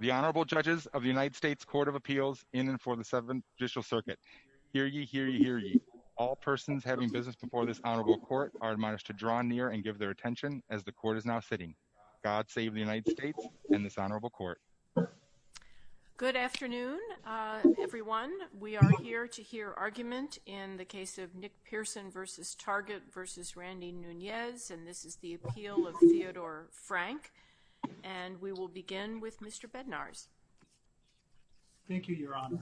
The Honorable Judges of the United States Court of Appeals in and for the Seventh Judicial Circuit. Hear ye, hear ye, hear ye. All persons having business before this Honorable Court are admonished to draw near and give their attention as the Court is now sitting. God save the United States and this Honorable Court. Good afternoon, everyone. We are here to hear argument in the case of Nick Pearson v. Target v. Randy Nunez and this is the appeal of Theodore Frank. And we will begin with Mr. Bednarz. Thank you, Your Honor.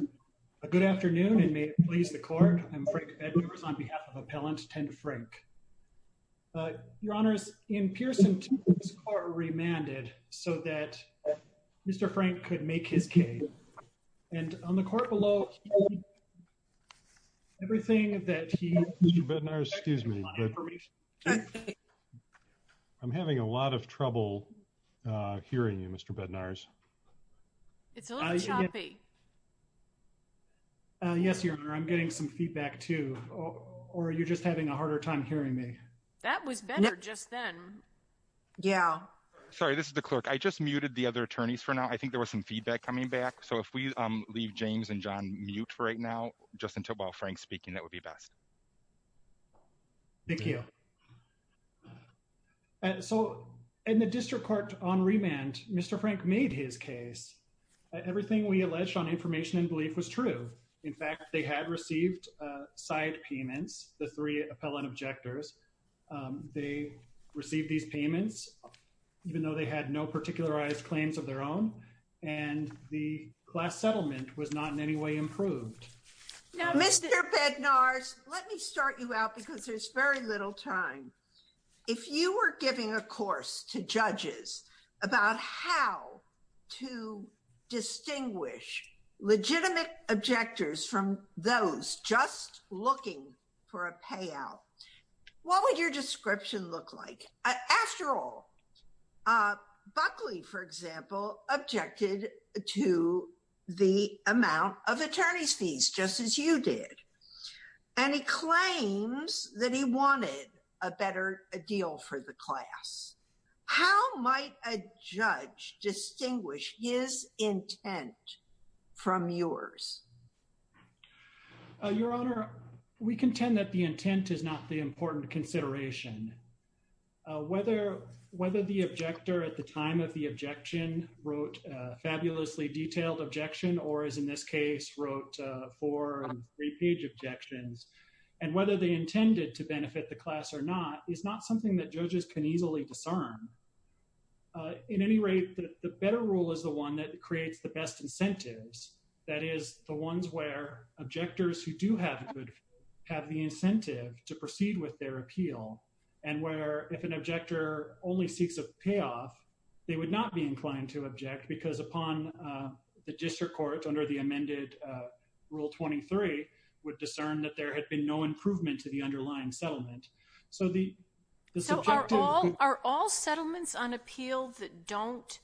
Good afternoon and may it please the Court, I'm Frank Bednarz on behalf of Appellant 10 Frank. Your Honors, in Pearson's case, the Court remanded so that Mr. Frank could make his case. And on the Court below, everything that he, Mr. Bednarz, excuse me, but I'm having a lot of trouble hearing you, Mr. Bednarz. It's a little choppy. Yes, Your Honor, I'm getting some feedback too, or you're just having a harder time hearing me. That was better just then. Yeah. Sorry, this is the Clerk. I just muted the other attorneys for now. I think there was some feedback coming back. So if we leave James and John mute right now, just until while Frank's speaking, that would be best. Thank you. So, in the District Court on remand, Mr. Frank made his case. Everything we alleged on information and belief was true. In fact, they had received side payments, the three appellant objectors. They received these payments, even though they had no particularized claims of their own, and the class settlement was not in any way improved. Mr. Bednarz, let me start you out because there's very little time. If you were giving a course to judges about how to distinguish legitimate objectors from those just looking for a payout, what would your description look like? After all, Buckley, for example, objected to the amount of attorney's fees, just as you did, and he claims that he wanted a better deal for the class. How might a judge distinguish his intent from yours? Your Honor, we contend that the intent is not the important consideration. Whether the objector at the time of the objection wrote a fabulously detailed objection or, as in this case, wrote four and three-page objections, and whether they intended to benefit the class or not is not something that judges can easily discern. In any rate, the better rule is the one that creates the best incentives. That is, the ones where objectors who do have the incentive to proceed with their appeal and where, if an objector only seeks a payoff, they would not be inclined to object because upon the district court, under the amended Rule 23, would discern that there had been no improvement to the underlying settlement. So the subjective— So are all settlements on appeal that don't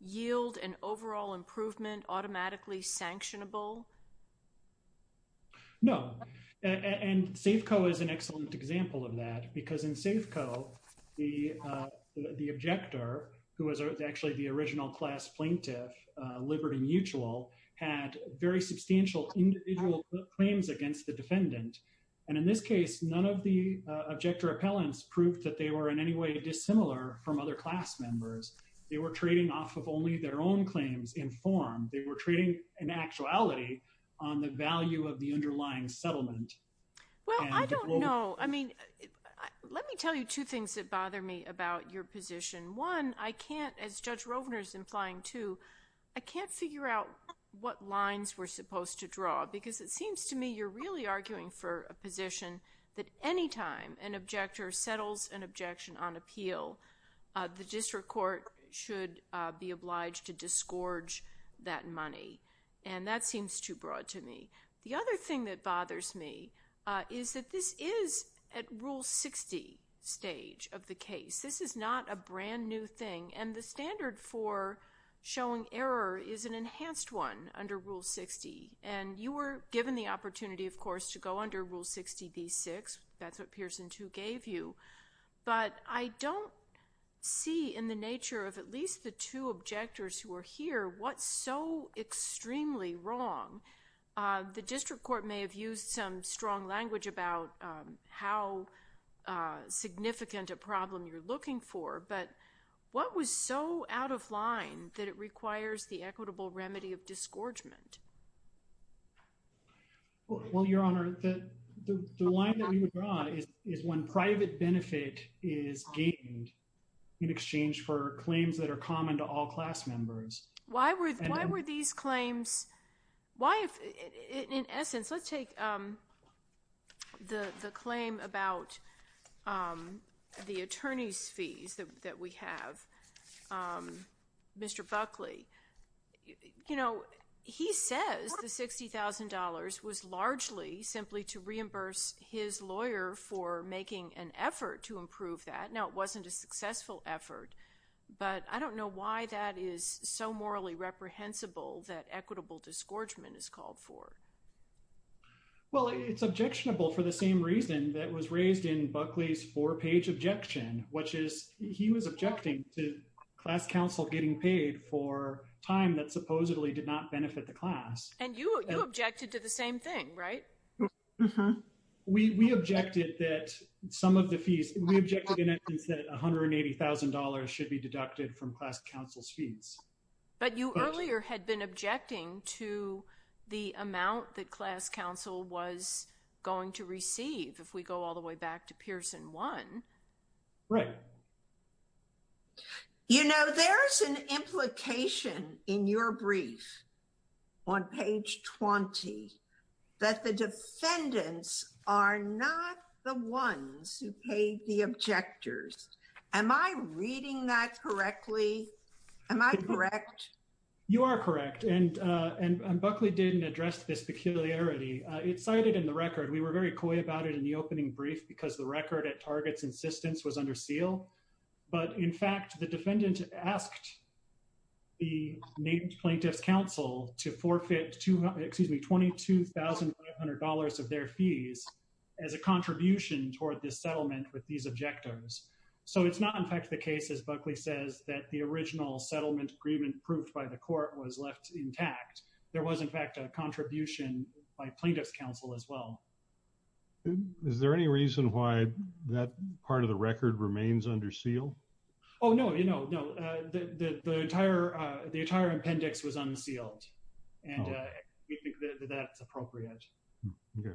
yield an overall improvement automatically sanctionable? No. And Safeco is an excellent example of that because in Safeco, the objector, who was actually the original class plaintiff, Liberty Mutual, had very substantial individual claims against the defendant. And in this case, none of the objector appellants proved that they were in any way dissimilar from other class members. They were trading off of only their own claims in form. They were trading in actuality on the value of the underlying settlement. Well, I don't know. I mean, let me tell you two things that bother me about your position. One, I can't, as Judge Rovner's implying too, I can't figure out what lines we're supposed to draw because it seems to me you're really arguing for a position that any time an objector settles an objection on appeal, the district court should be obliged to disgorge that money. And that seems too broad to me. The other thing that bothers me is that this is at Rule 60 stage of the case. This is not a brand new thing. And the standard for showing error is an enhanced one under Rule 60. And you were given the opportunity, of course, to go under Rule 60d6. That's what Pearson 2 gave you. But I don't see in the nature of at least the two objectors who are here what's so extremely wrong. The district court may have used some strong language about how significant a problem you're looking for. But what was so out of line that it requires the equitable remedy of disgorgement? Well, Your Honor, the line that we would draw is when private benefit is gained in exchange for claims that are common to all class members. Why were these claims, why if, in essence, let's take the claim about the attorney's that we have, Mr. Buckley, you know, he says the $60,000 was largely simply to reimburse his lawyer for making an effort to improve that. Now, it wasn't a successful effort. But I don't know why that is so morally reprehensible that equitable disgorgement is called for. Well, it's objectionable for the same reason that was raised in Buckley's four-page objection, which is he was objecting to class counsel getting paid for time that supposedly did not benefit the class. And you objected to the same thing, right? We objected that some of the fees, we objected in essence that $180,000 should be deducted from class counsel's fees. But you earlier had been objecting to the amount that class counsel was going to receive if we go all the way back to Pearson 1. Right. You know, there's an implication in your brief on page 20 that the defendants are not the ones who paid the objectors. Am I reading that correctly? Am I correct? You are correct. And Buckley didn't address this peculiarity. It's cited in the record. We were very coy about it in the opening brief because the record at Target's insistence was under seal. But in fact, the defendant asked the plaintiff's counsel to forfeit $22,500 of their fees as a contribution toward this settlement with these objectors. So it's not in fact the case, as Buckley says, that the original settlement agreement proofed by the court was left intact. There was, in fact, a contribution by plaintiff's counsel as well. Is there any reason why that part of the record remains under seal? Oh, no. You know, no. The entire appendix was unsealed, and we think that that's appropriate. Okay.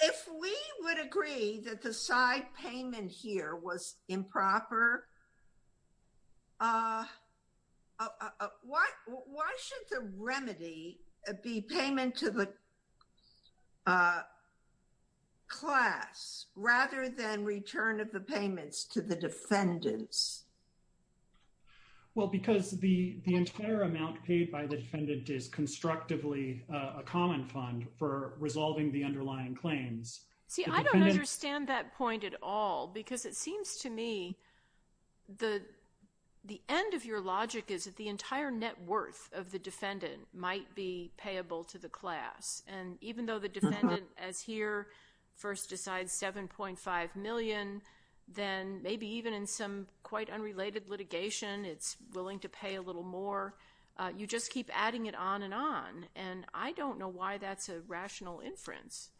If we would agree that the side payment here was improper, why should the remedy be payment to the class rather than return of the payments to the defendants? Well, because the entire amount paid by the defendant is constructively a common fund for resolving the underlying claims. See, I don't understand that point at all because it seems to me the end of your logic is that the entire net worth of the defendant might be payable to the class. And even though the defendant, as here, first decides $7.5 million, then maybe even in some quite unrelated litigation, it's willing to pay a little more. You just keep adding it on and on. And I don't know why that's a rational inference.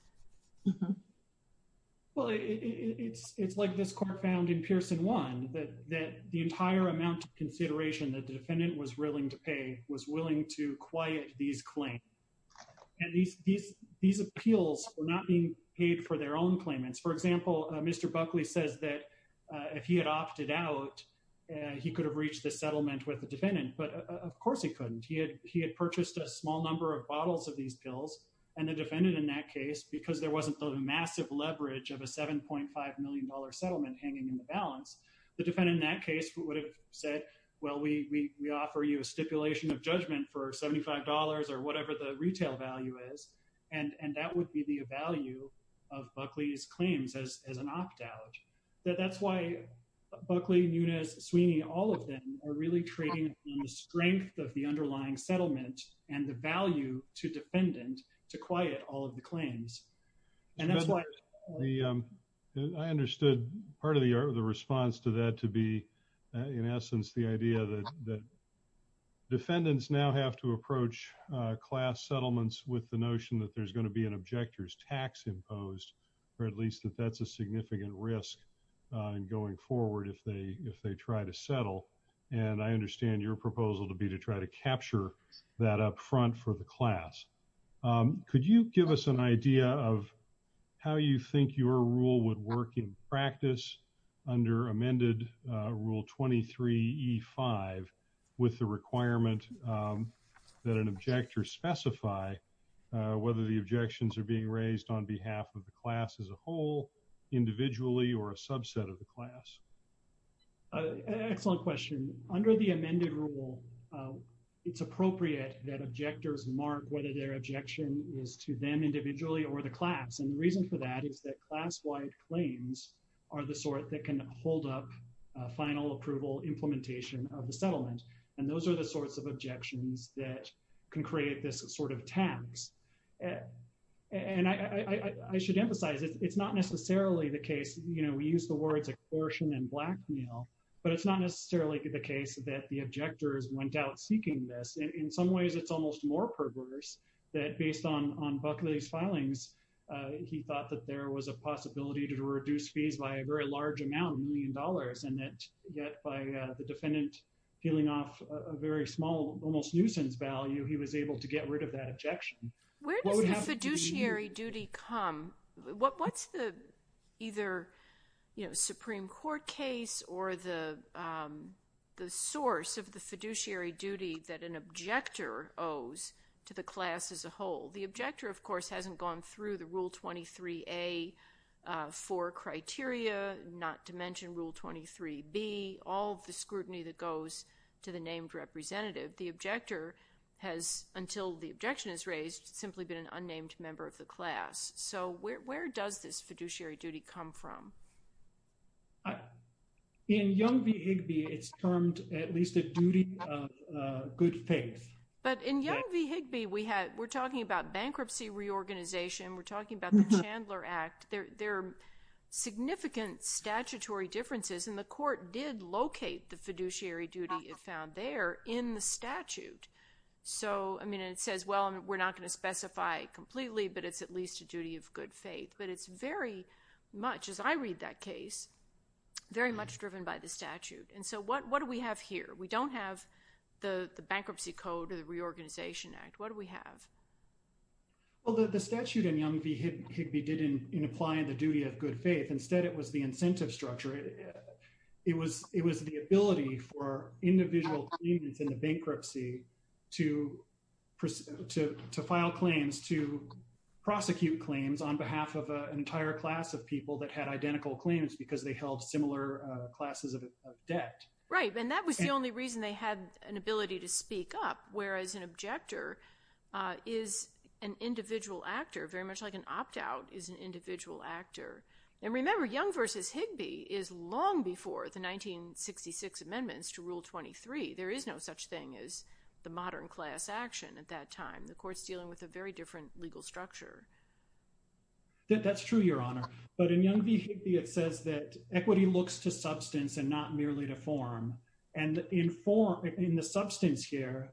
Well, it's like this court found in Pearson 1 that the entire amount of consideration that the defendant was willing to pay was willing to quiet these claims. These appeals were not being paid for their own claimants. For example, Mr. Buckley says that if he had opted out, he could have reached the settlement with the defendant. But of course he couldn't. He had purchased a small number of bottles of these pills and the defendant in that case, because there wasn't the massive leverage of a $7.5 million settlement hanging in the balance, the defendant in that case would have said, well, we offer you a stipulation of judgment for $75 or whatever the retail value is. And that would be the value of Buckley's claims as an opt-out. That's why Buckley, Nunes, Sweeney, all of them are really trading on the strength of the underlying settlement and the value to defendant to quiet all of the claims. And that's why- I understood part of the response to that to be, in essence, the idea that defendants now have to approach class settlements with the notion that there's going to be an objector's tax imposed, or at least that that's a significant risk going forward if they try to settle. And I understand your proposal to be to try to capture that up front for the class. Could you give us an idea of how you think your rule would work in practice under amended rule 23E5 with the requirement that an objector specify whether the objections are being raised on behalf of the class as a whole, individually, or a subset of the class? Excellent question. Under the amended rule, it's appropriate that objectors mark whether their objection is to them individually or the class. And the reason for that is that class-wide claims are the sort that can hold up final approval implementation of the settlement. And those are the sorts of objections that can create this sort of tax. And I should emphasize, it's not necessarily the case, you know, we use the words coercion and blackmail, but it's not necessarily the case that the objectors went out seeking this. In some ways, it's almost more perverse that based on Buckley's filings, he thought that there was a possibility to reduce fees by a very large amount, a million dollars, and that yet by the defendant peeling off a very small, almost nuisance value, he was able to get rid of that objection. Where does the fiduciary duty come? What's the either, you know, Supreme Court case or the source of the fiduciary duty that an objector owes to the class as a whole? The objector, of course, hasn't gone through the Rule 23A for criteria, not to mention Rule 23B, all of the scrutiny that goes to the named representative. The objector has, until the objection is raised, simply been an unnamed member of the class. So where does this fiduciary duty come from? In Young v. Higbee, it's termed at least a duty of good faith. But in Young v. Higbee, we're talking about bankruptcy reorganization, we're talking about the Chandler Act, there are significant statutory differences, and the court did locate the fiduciary duty it found there in the statute. So, I mean, it says, well, we're not going to specify completely, but it's at least a duty of good faith. But it's very much, as I read that case, very much driven by the statute. And so what do we have here? We don't have the Bankruptcy Code or the Reorganization Act. What do we have? Well, the statute in Young v. Higbee didn't imply the duty of good faith. Instead, it was the incentive structure. It was the ability for individual claimants in the bankruptcy to file claims, to prosecute claims on behalf of an entire class of people that had identical claims because they held similar classes of debt. Right. And that was the only reason they had an ability to speak up, whereas an objector is an individual actor, very much like an opt-out is an individual actor. And remember, Young v. Higbee is long before the 1966 amendments to Rule 23. There is no such thing as the modern class action at that time. The court's dealing with a very different legal structure. That's true, Your Honor. But in Young v. Higbee, it says that equity looks to substance and not merely to form. And in the substance here,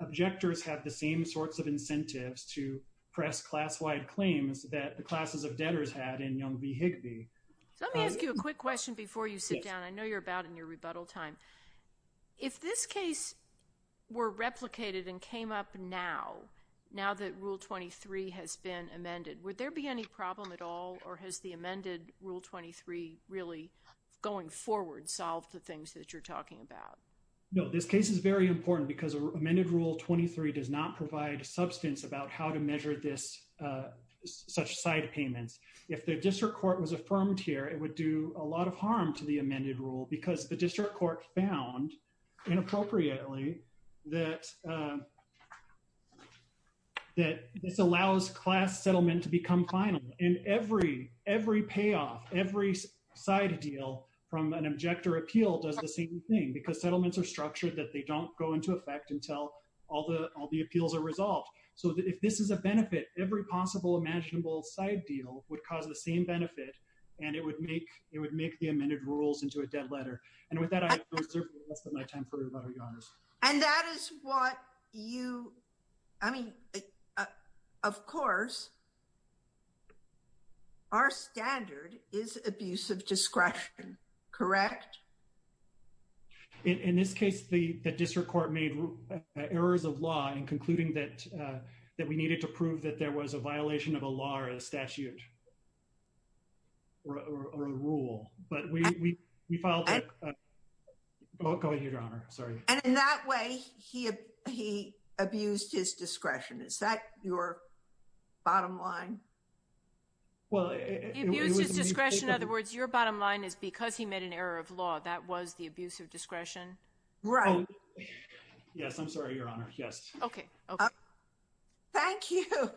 objectors have the same sorts of incentives to press class-wide claims that the classes of debtors had in Young v. Higbee. So let me ask you a quick question before you sit down. I know you're about in your rebuttal time. If this case were replicated and came up now, now that Rule 23 has been amended, would there be any problem at all? Or has the amended Rule 23 really, going forward, solved the things that you're talking about? No, this case is very important because amended Rule 23 does not provide substance about how to measure such side payments. If the district court was affirmed here, it would do a lot of harm to the amended rule because the district court found, inappropriately, that this allows class settlement to become final. And every payoff, every side deal from an objector appeal does the same thing because settlements are structured that they don't go into effect until all the appeals are resolved. So if this is a benefit, every possible imaginable side deal would cause the same benefit, and it would make the amended rules into a dead letter. And with that, I have reserved the rest of my time for rebuttal, Your Honors. And that is what you, I mean, of course, our standard is abuse of discretion, correct? In this case, the district court made errors of law in concluding that we needed to prove that there was a violation of a law or a statute or a rule. But we filed a... Go ahead, Your Honor. Sorry. And in that way, he abused his discretion. Is that your bottom line? Well... He abused his discretion, in other words, your bottom line is because he made an error of law. That was the abuse of discretion. Right. Yes. I'm sorry, Your Honor. Yes. Okay. Okay. Thank you.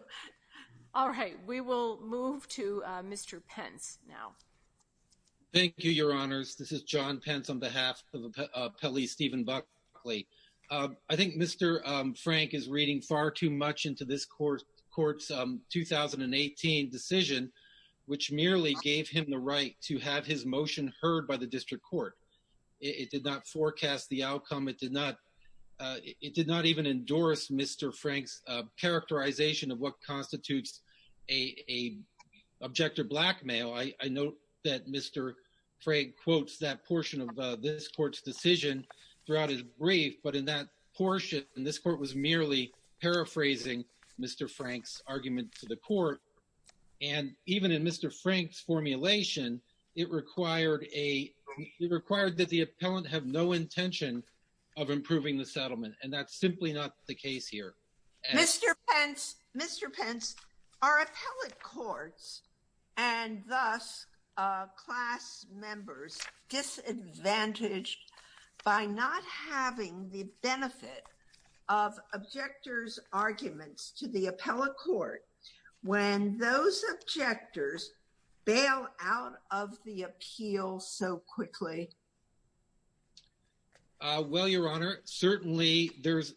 All right. We will move to Mr. Pence now. Thank you, Your Honors. This is John Pence on behalf of Appellee Stephen Buckley. I think Mr. Frank is reading far too much into this court's 2018 decision, which merely gave him the right to have his motion heard by the district court. It did not forecast the outcome. It did not even endorse Mr. Frank's characterization of what constitutes a object of blackmail. I know that Mr. Frank quotes that portion of this court's decision throughout his brief, but in that portion, and this court was merely paraphrasing Mr. Frank's argument to the court. And even in Mr. Frank's formulation, it required that the appellant have no intention of improving the settlement. And that's simply not the case here. Mr. Pence, our appellate courts, and thus class members, disadvantaged by not having the benefit of objectors' arguments to the appellate court, when those objectors bail out of the appeal so quickly. Well, Your Honor, certainly there's,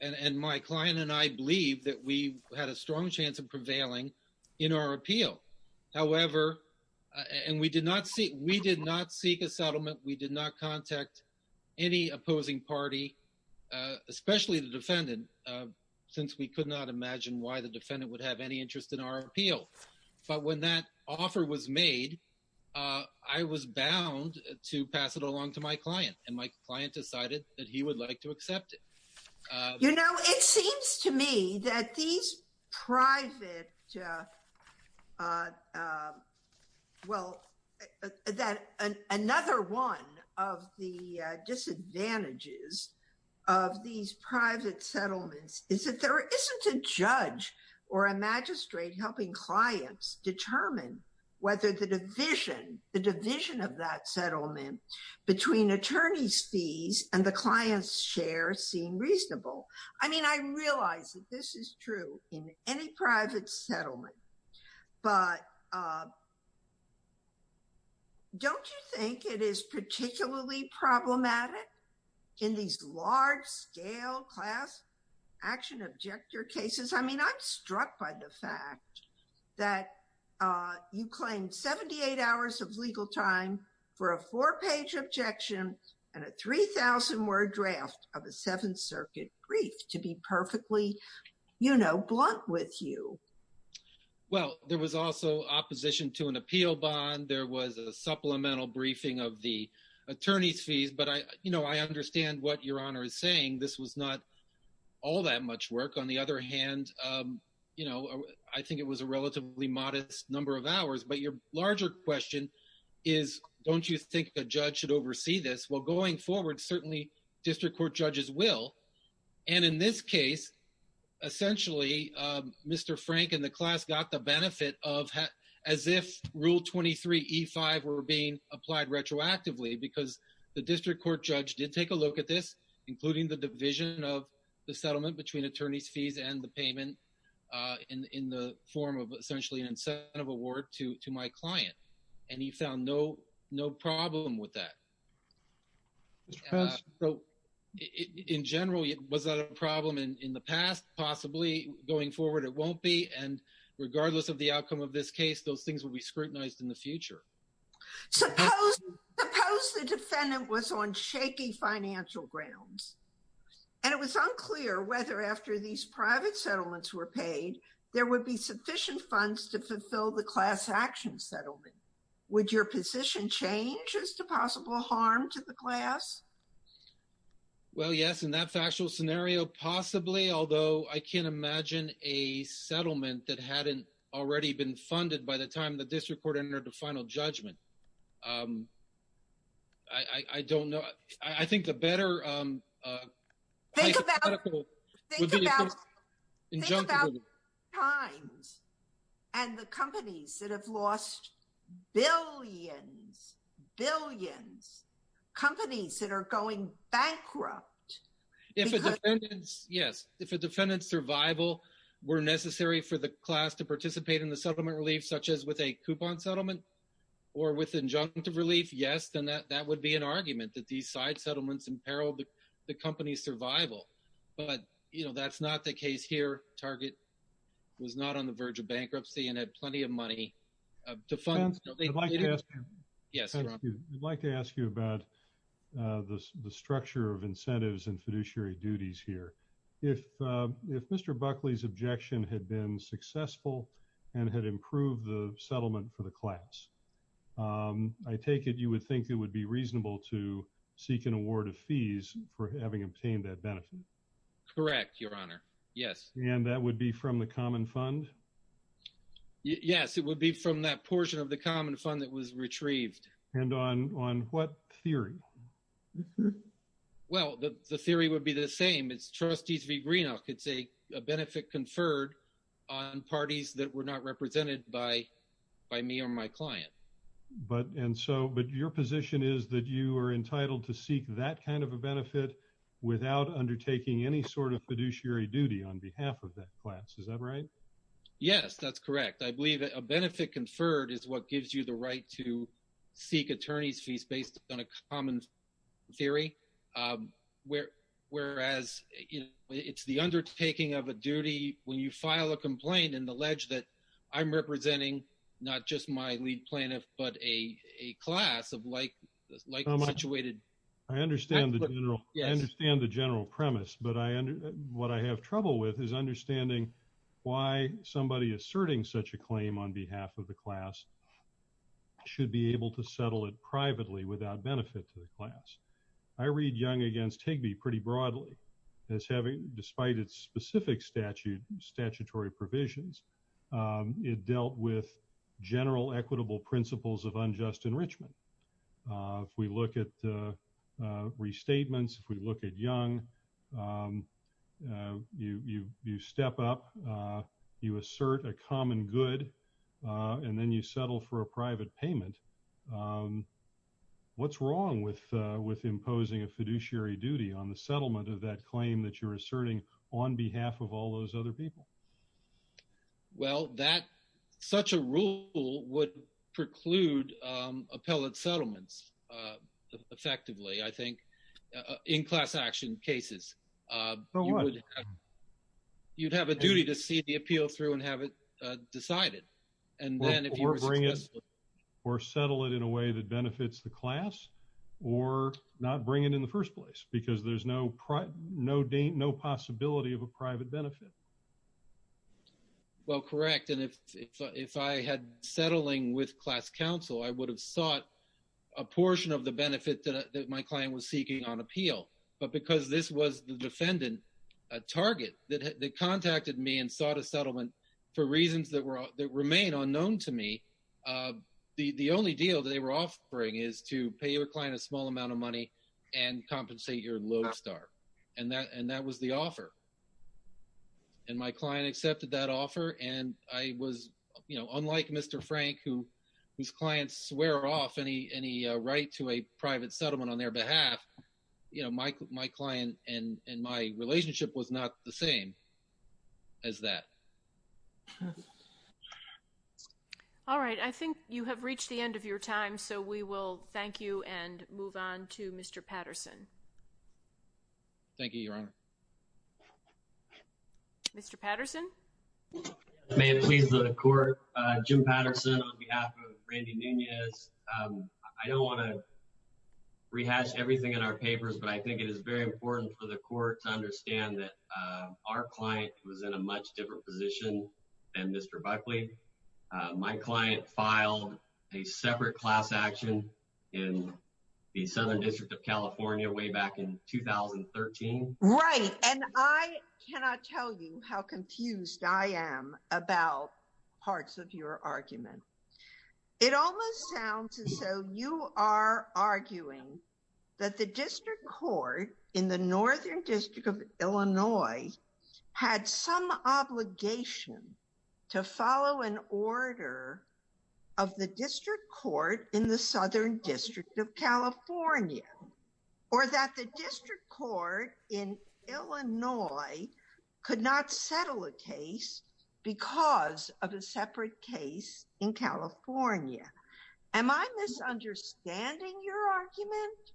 and my client and I believe that we had a strong chance of prevailing in our appeal, however, and we did not seek a settlement. We did not contact any opposing party, especially the defendant, since we could not imagine why the defendant would have any interest in our appeal. But when that offer was made, I was bound to pass it along to my client, and my client decided that he would like to accept it. You know, it seems to me that these private, well, that another one of the disadvantages of these private settlements is that there isn't a judge or a magistrate helping clients determine whether the division, the division of that settlement between attorney's fees and the client's share seem reasonable. I mean, I realize that this is true in any private settlement, but don't you think it is particularly problematic in these large-scale class action objector cases? I mean, I'm struck by the fact that you claimed 78 hours of legal time for a four-page objection and a 3,000-word draft of a Seventh Circuit brief to be perfectly, you know, blunt with you. Well, there was also opposition to an appeal bond. There was a supplemental briefing of the attorney's fees. But I, you know, I understand what Your Honor is saying. This was not all that much work. On the other hand, you know, I think it was a relatively modest number of hours. But your larger question is, don't you think a judge should oversee this? Well, going forward, certainly district court judges will. And in this case, essentially, Mr. Frank and the class got the benefit of as if Rule 23E5 were being applied retroactively because the district court judge did take a look at this, including the division of the settlement between attorney's fees and the payment in the form of essentially an incentive award to my client. And he found no problem with that. So in general, was that a problem in the past? Possibly. Going forward, it won't be. And regardless of the outcome of this case, those things will be scrutinized in the future. Suppose the defendant was on shaky financial grounds. And it was unclear whether after these private settlements were paid, there would be sufficient funds to fulfill the class action settlement. Would your position change as to possible harm to the class? Well, yes. In that factual scenario, possibly, although I can't imagine a settlement that hadn't already been funded by the time the district court entered the final judgment. I don't know. I think the better Think about times and the companies that have lost billions, billions, companies that are going bankrupt. Yes. If a defendant's survival were necessary for the class to participate in the settlement relief, such as with a coupon settlement or with injunctive relief, yes, then that would be an argument that these side settlements imperiled the company's survival. But, you know, that's not the case here. Target was not on the verge of bankruptcy and had plenty of money to fund. Yes, I'd like to ask you about the structure of incentives and fiduciary duties here. If Mr. Buckley's objection had been successful and had improved the settlement for the class, I take it you would think it would be reasonable to seek an award of fees for having obtained that benefit? Correct, Your Honor. Yes. And that would be from the common fund? Yes, it would be from that portion of the common fund that was retrieved. And on what theory? Well, the theory would be the same. It's Trustees v. Greenock. It's a benefit conferred on parties that were not represented by me or my client. But your position is that you are entitled to seek that kind of a benefit without undertaking any sort of fiduciary duty on behalf of that class. Is that right? Yes, that's correct. I believe a benefit conferred is what gives you the right to seek attorney's fees based on a common theory, whereas it's the undertaking of a duty when you file a complaint and allege that I'm representing not just my lead plaintiff, but a class of like-situated... I understand the general premise, but what I have trouble with is understanding why somebody asserting such a claim on behalf of the class should be able to settle it privately without benefit to the class. I read Young v. Higby pretty broadly as having, despite its specific statutory provisions, it dealt with general equitable principles of unjust enrichment. If we look at restatements, if we look at Young, you step up, you assert a common good, and then you settle for a private payment. What's wrong with imposing a fiduciary duty on the settlement of that claim that you're asserting on behalf of all those other people? Well, such a rule would preclude appellate settlements effectively, I think, in class action cases. You'd have a duty to see the appeal through and have it decided, and then if you were successful... Or settle it in a way that benefits the class, or not bring it in the first place, because there's no possibility of a private benefit. Well, correct, and if I had settling with class counsel, I would have sought a portion of the benefit that my client was seeking on appeal. But because this was the defendant, a target that contacted me and sought a settlement for reasons that remain unknown to me, the only deal that they were offering is to pay your client a small amount of money and compensate your lodestar, and that was the offer. And my client accepted that offer, and I was, you know, unlike Mr. Frank, whose clients swear off any right to a private settlement on their behalf, you know, my client and my relationship was not the same as that. All right, I think you have reached the end of your time, so we will thank you and move on to Mr. Patterson. Thank you, Your Honor. Mr. Patterson? May it please the Court, Jim Patterson on behalf of Randy Nunez. I don't want to rehash everything in our papers, but I think it is very important for the Court to understand that our client was in a much different position than Mr. Buckley. My client filed a separate class action in the Southern District of California way back in 2013. Right, and I cannot tell you how confused I am about parts of your argument. It almost sounds as though you are arguing that the District Court in the Northern District of Illinois had some obligation to follow an order of the District Court in the Southern District of California, or that the District Court in Illinois could not settle a case because of a separate case in California. Am I misunderstanding your argument?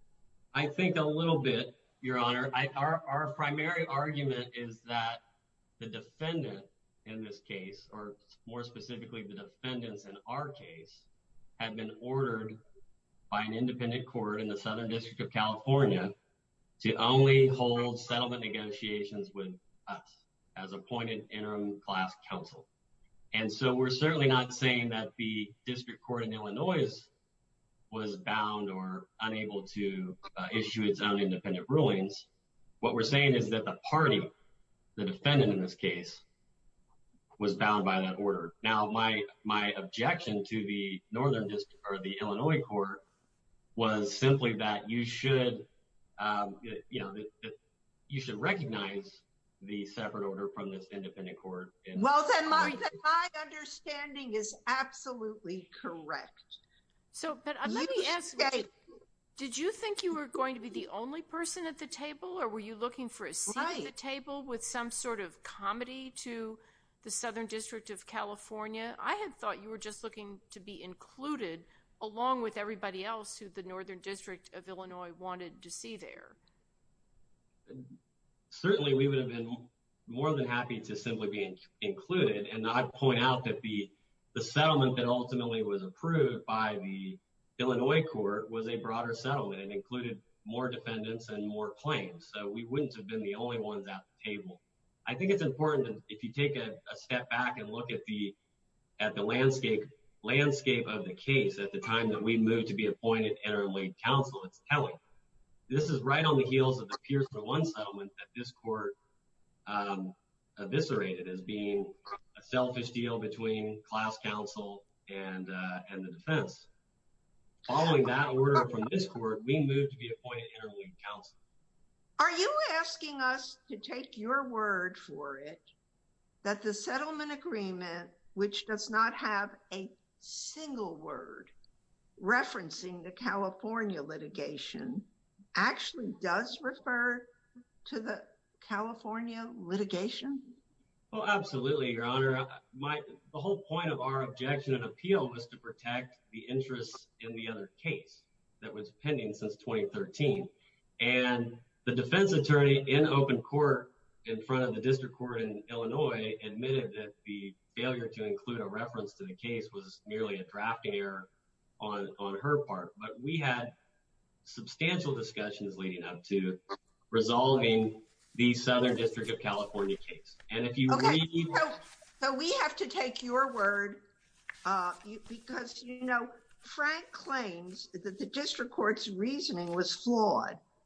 I think a little bit, Your Honor. Our primary argument is that the defendant in this case, or more specifically the defendants in our case, had been ordered by an independent court in the Southern District of California to only hold settlement negotiations with us as appointed interim class counsel. And so we're certainly not saying that the District Court in Illinois was bound or unable to issue its own independent rulings. What we're saying is that the party, the defendant in this case, was bound by that order. Now, my objection to the Northern District or the Illinois Court was simply that you should, you know, that you should recognize the separate order from this independent court. Well, then my understanding is absolutely correct. So, but let me ask, did you think you were going to be the only person at the table or were you looking for a seat at the table with some sort of comedy to the Southern District of California? I had thought you were just looking to be included along with everybody else who the Northern District of Illinois wanted to see there. Certainly, we would have been more than happy to simply be included. And I'd point out that the settlement that ultimately was approved by the Illinois Court was a broader settlement. It included more defendants and more claims. So we wouldn't have been the only ones at the table. I think it's important that if you take a step back and look at the landscape of the case at the time that we moved to be appointed interleague counsel, it's telling. This is right on the heels of the Pierson 1 settlement that this court eviscerated as being a selfish deal between class counsel and the defense. Following that order from this court, we moved to be appointed interleague counsel. Are you asking us to take your word for it that the settlement agreement, which does not have a single word referencing the California litigation, actually does refer to the California litigation? Well, absolutely, Your Honor. The whole point of our objection and appeal was to protect the interests in the other case that was pending since 2013. And the defense attorney in open court in front of the district court in Illinois admitted that the failure to include a reference to the case was merely a drafting error on her part. But we had substantial discussions leading up to resolving the Southern District of California case. And if you read— Okay, so we have to take your word because, you know, Frank claims that the district court's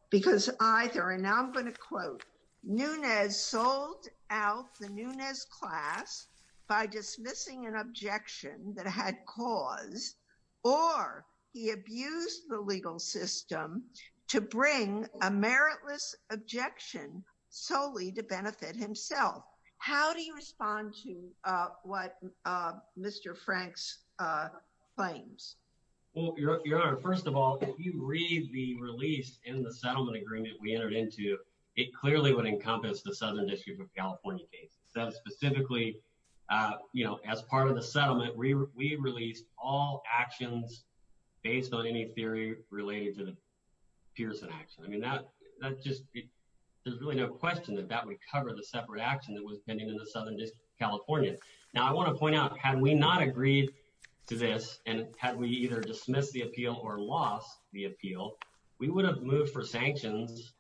because either—and I'm going to quote—Nunes sold out the Nunes class by dismissing an objection that had cause, or he abused the legal system to bring a meritless objection solely to benefit himself. How do you respond to what Mr. Frank's claims? Well, Your Honor, first of all, if you read the release in the settlement agreement we entered into, it clearly would encompass the Southern District of California case. So specifically, you know, as part of the settlement, we released all actions based on any theory related to the Pearson action. I mean, that just—there's really no question that that would cover the separate action that was pending in the Southern District of California. Now, I want to point out, had we not agreed to this, and had we either dismissed the appeal or lost the appeal, we would have moved for sanctions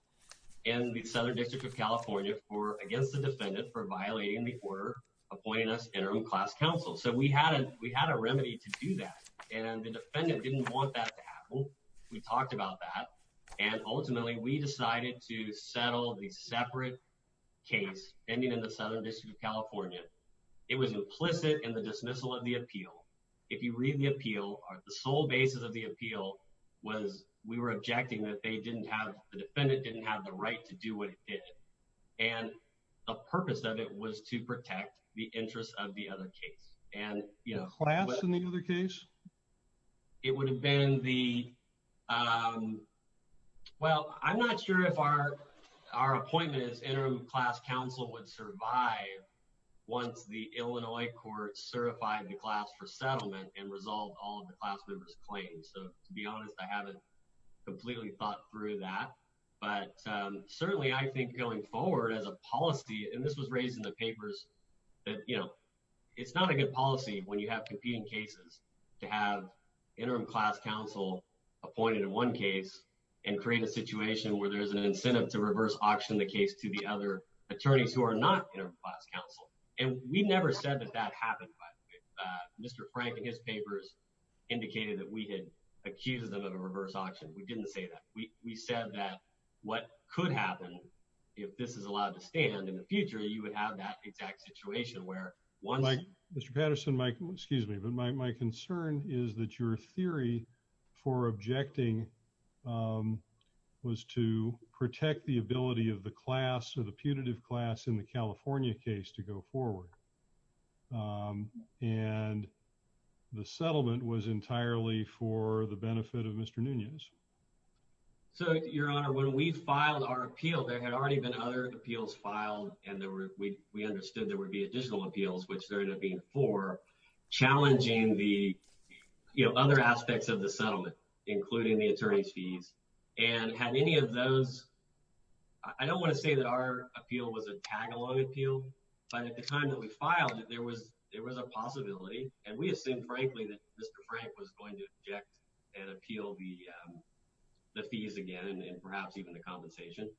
in the Southern District of California for—against the defendant for violating the order appointing us interim class counsel. So we had a remedy to do that, and the defendant didn't want that to happen. We talked about that, and ultimately we decided to settle the separate case pending in the Southern District of California. It was implicit in the dismissal of the appeal. If you read the appeal, the sole basis of the appeal was we were objecting that they didn't have—the defendant didn't have the right to do what it did, and the purpose of it was to protect the interests of the other case. And, you know— The class in the other case? It would have been the—well, I'm not sure if our appointment as interim class counsel would survive once the Illinois court certified the class for settlement and resolved all of the class member's claims. So, to be honest, I haven't completely thought through that, but certainly I think going forward as a policy—and this was raised in the papers—that, you know, it's not a good policy when you have competing cases to have interim class counsel appointed in one case and create a situation where there's an incentive to reverse auction the case to the other attorneys who are not interim class counsel. And we never said that that happened, by the way. Mr. Frank, in his papers, indicated that we had accused them of a reverse auction. We didn't say that. We said that what could happen, if this is allowed to stand in the future, you would have that exact situation where once— Mike, Mr. Patterson, Mike, excuse me, but my concern is that your theory for objecting was to protect the ability of the class or the punitive class in the California case to go forward. And the settlement was entirely for the benefit of Mr. Nunez. So, Your Honor, when we filed our appeal, there had already been other appeals filed and we understood there would be additional appeals, which there would have been four, challenging the, you know, other aspects of the settlement, including the attorney's fees. And had any of those—I don't want to say that our appeal was a tag-along appeal, but at the time that we filed it, there was a possibility, and we assumed, frankly, that Mr. Frank was going to object and appeal the fees again and perhaps even the compensation.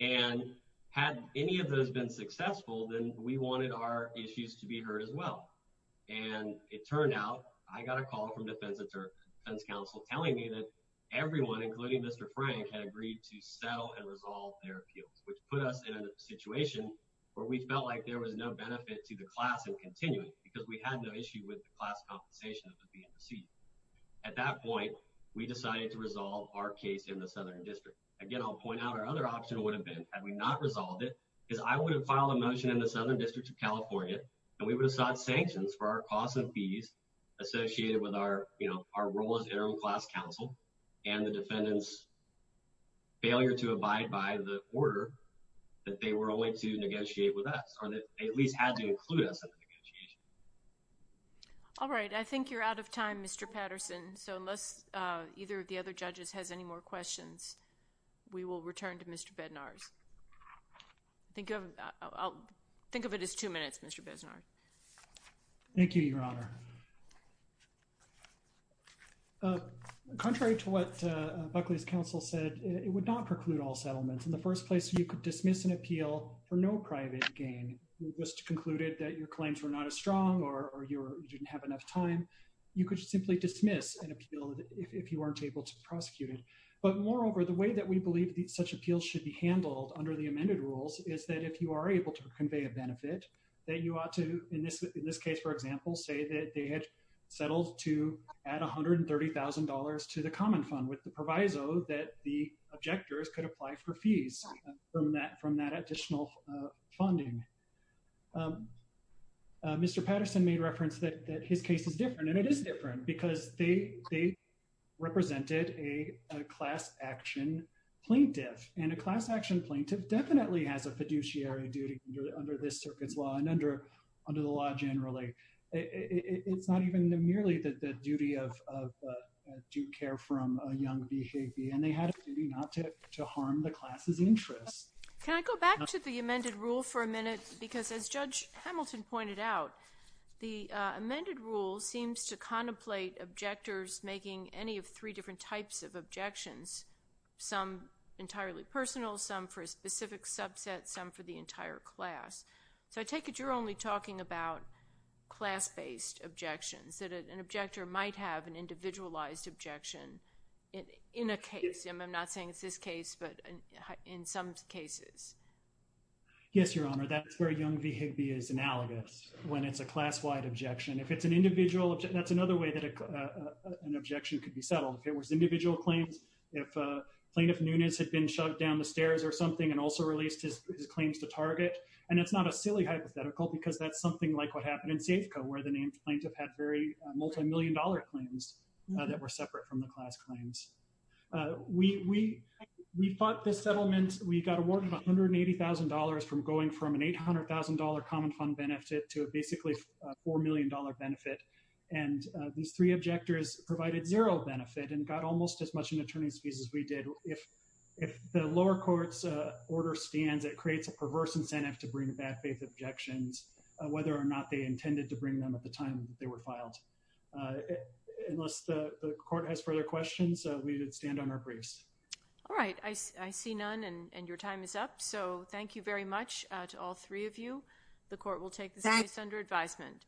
And had any of those been successful, then we wanted our issues to be heard as well. And it turned out, I got a call from defense counsel telling me that everyone, including Mr. Frank, had agreed to settle and resolve their appeals, which put us in a situation where we felt like there was no benefit to the class in continuing because we had no issue with the class compensation that was being received. At that point, we decided to resolve our case in the Southern District. Again, I'll point out our other option would have been, had we not resolved it, is I would have filed a motion in the Southern District of California, and we would have sought sanctions for our costs and fees associated with our, you know, our role as interim class counsel and the defendant's failure to abide by the order that they were willing to negotiate with us, or that they at least had to include us in the negotiation. All right. I think you're out of time, Mr. Patterson. So, unless either of the other judges has any more questions, we will return to Mr. Bednarz. I'll think of it as two minutes, Mr. Bednarz. Thank you, Your Honor. Contrary to what Buckley's counsel said, it would not preclude all settlements. In the first place, you could dismiss an appeal for no private gain. It was concluded that your claims were not as strong or you didn't have enough time. You could simply dismiss an appeal if you weren't able to prosecute it. But moreover, the way that we believe that such appeals should be handled under the amended rules is that if you are able to convey a benefit, that you ought to, in this case, for example, say that they had settled to add $130,000 to the common fund with the proviso that the objectors could apply for fees from that additional funding. Mr. Patterson made reference that his case is different, and it is different because they represented a class-action plaintiff, and a class-action plaintiff definitely has a fiduciary duty under this circuit's law and under the law generally. It's not even merely the duty of due care from a young behavior, and they had a duty not to harm the class's interest. Can I go back to the amended rule for a minute? Because as Judge Hamilton pointed out, the amended rule seems to contemplate objectors making any of three different types of objections, some entirely personal, some for a specific subset, some for the entire class. So I take it you're only talking about class-based objections, that an objector might have an individualized objection in a case. I'm not saying it's this case, but in some cases. Yes, Your Honor, that's where Young v. Higbee is analogous, when it's a class-wide objection. If it's an individual, that's another way that an objection could be settled. If it was individual claims, if Plaintiff Nunes had been shoved down the stairs or something and also released his claims to target, and it's not a silly hypothetical because that's something like what happened in Safeco, where the named plaintiff had very multi-million dollar claims that were separate from the class claims. We fought this settlement. We got awarded $180,000 from going from an $800,000 common fund benefit to a basically $4 million benefit. And these three objectors provided zero benefit and got almost as much in attorney's fees as we did. If the lower court's order stands, it creates a perverse incentive to bring bad-faith objections, whether or not they intended to bring them at the time they were filed. Unless the court has further questions, we would stand on our briefs. All right. I see none, and your time is up. So thank you very much to all three of you. The court will take this case under advisement.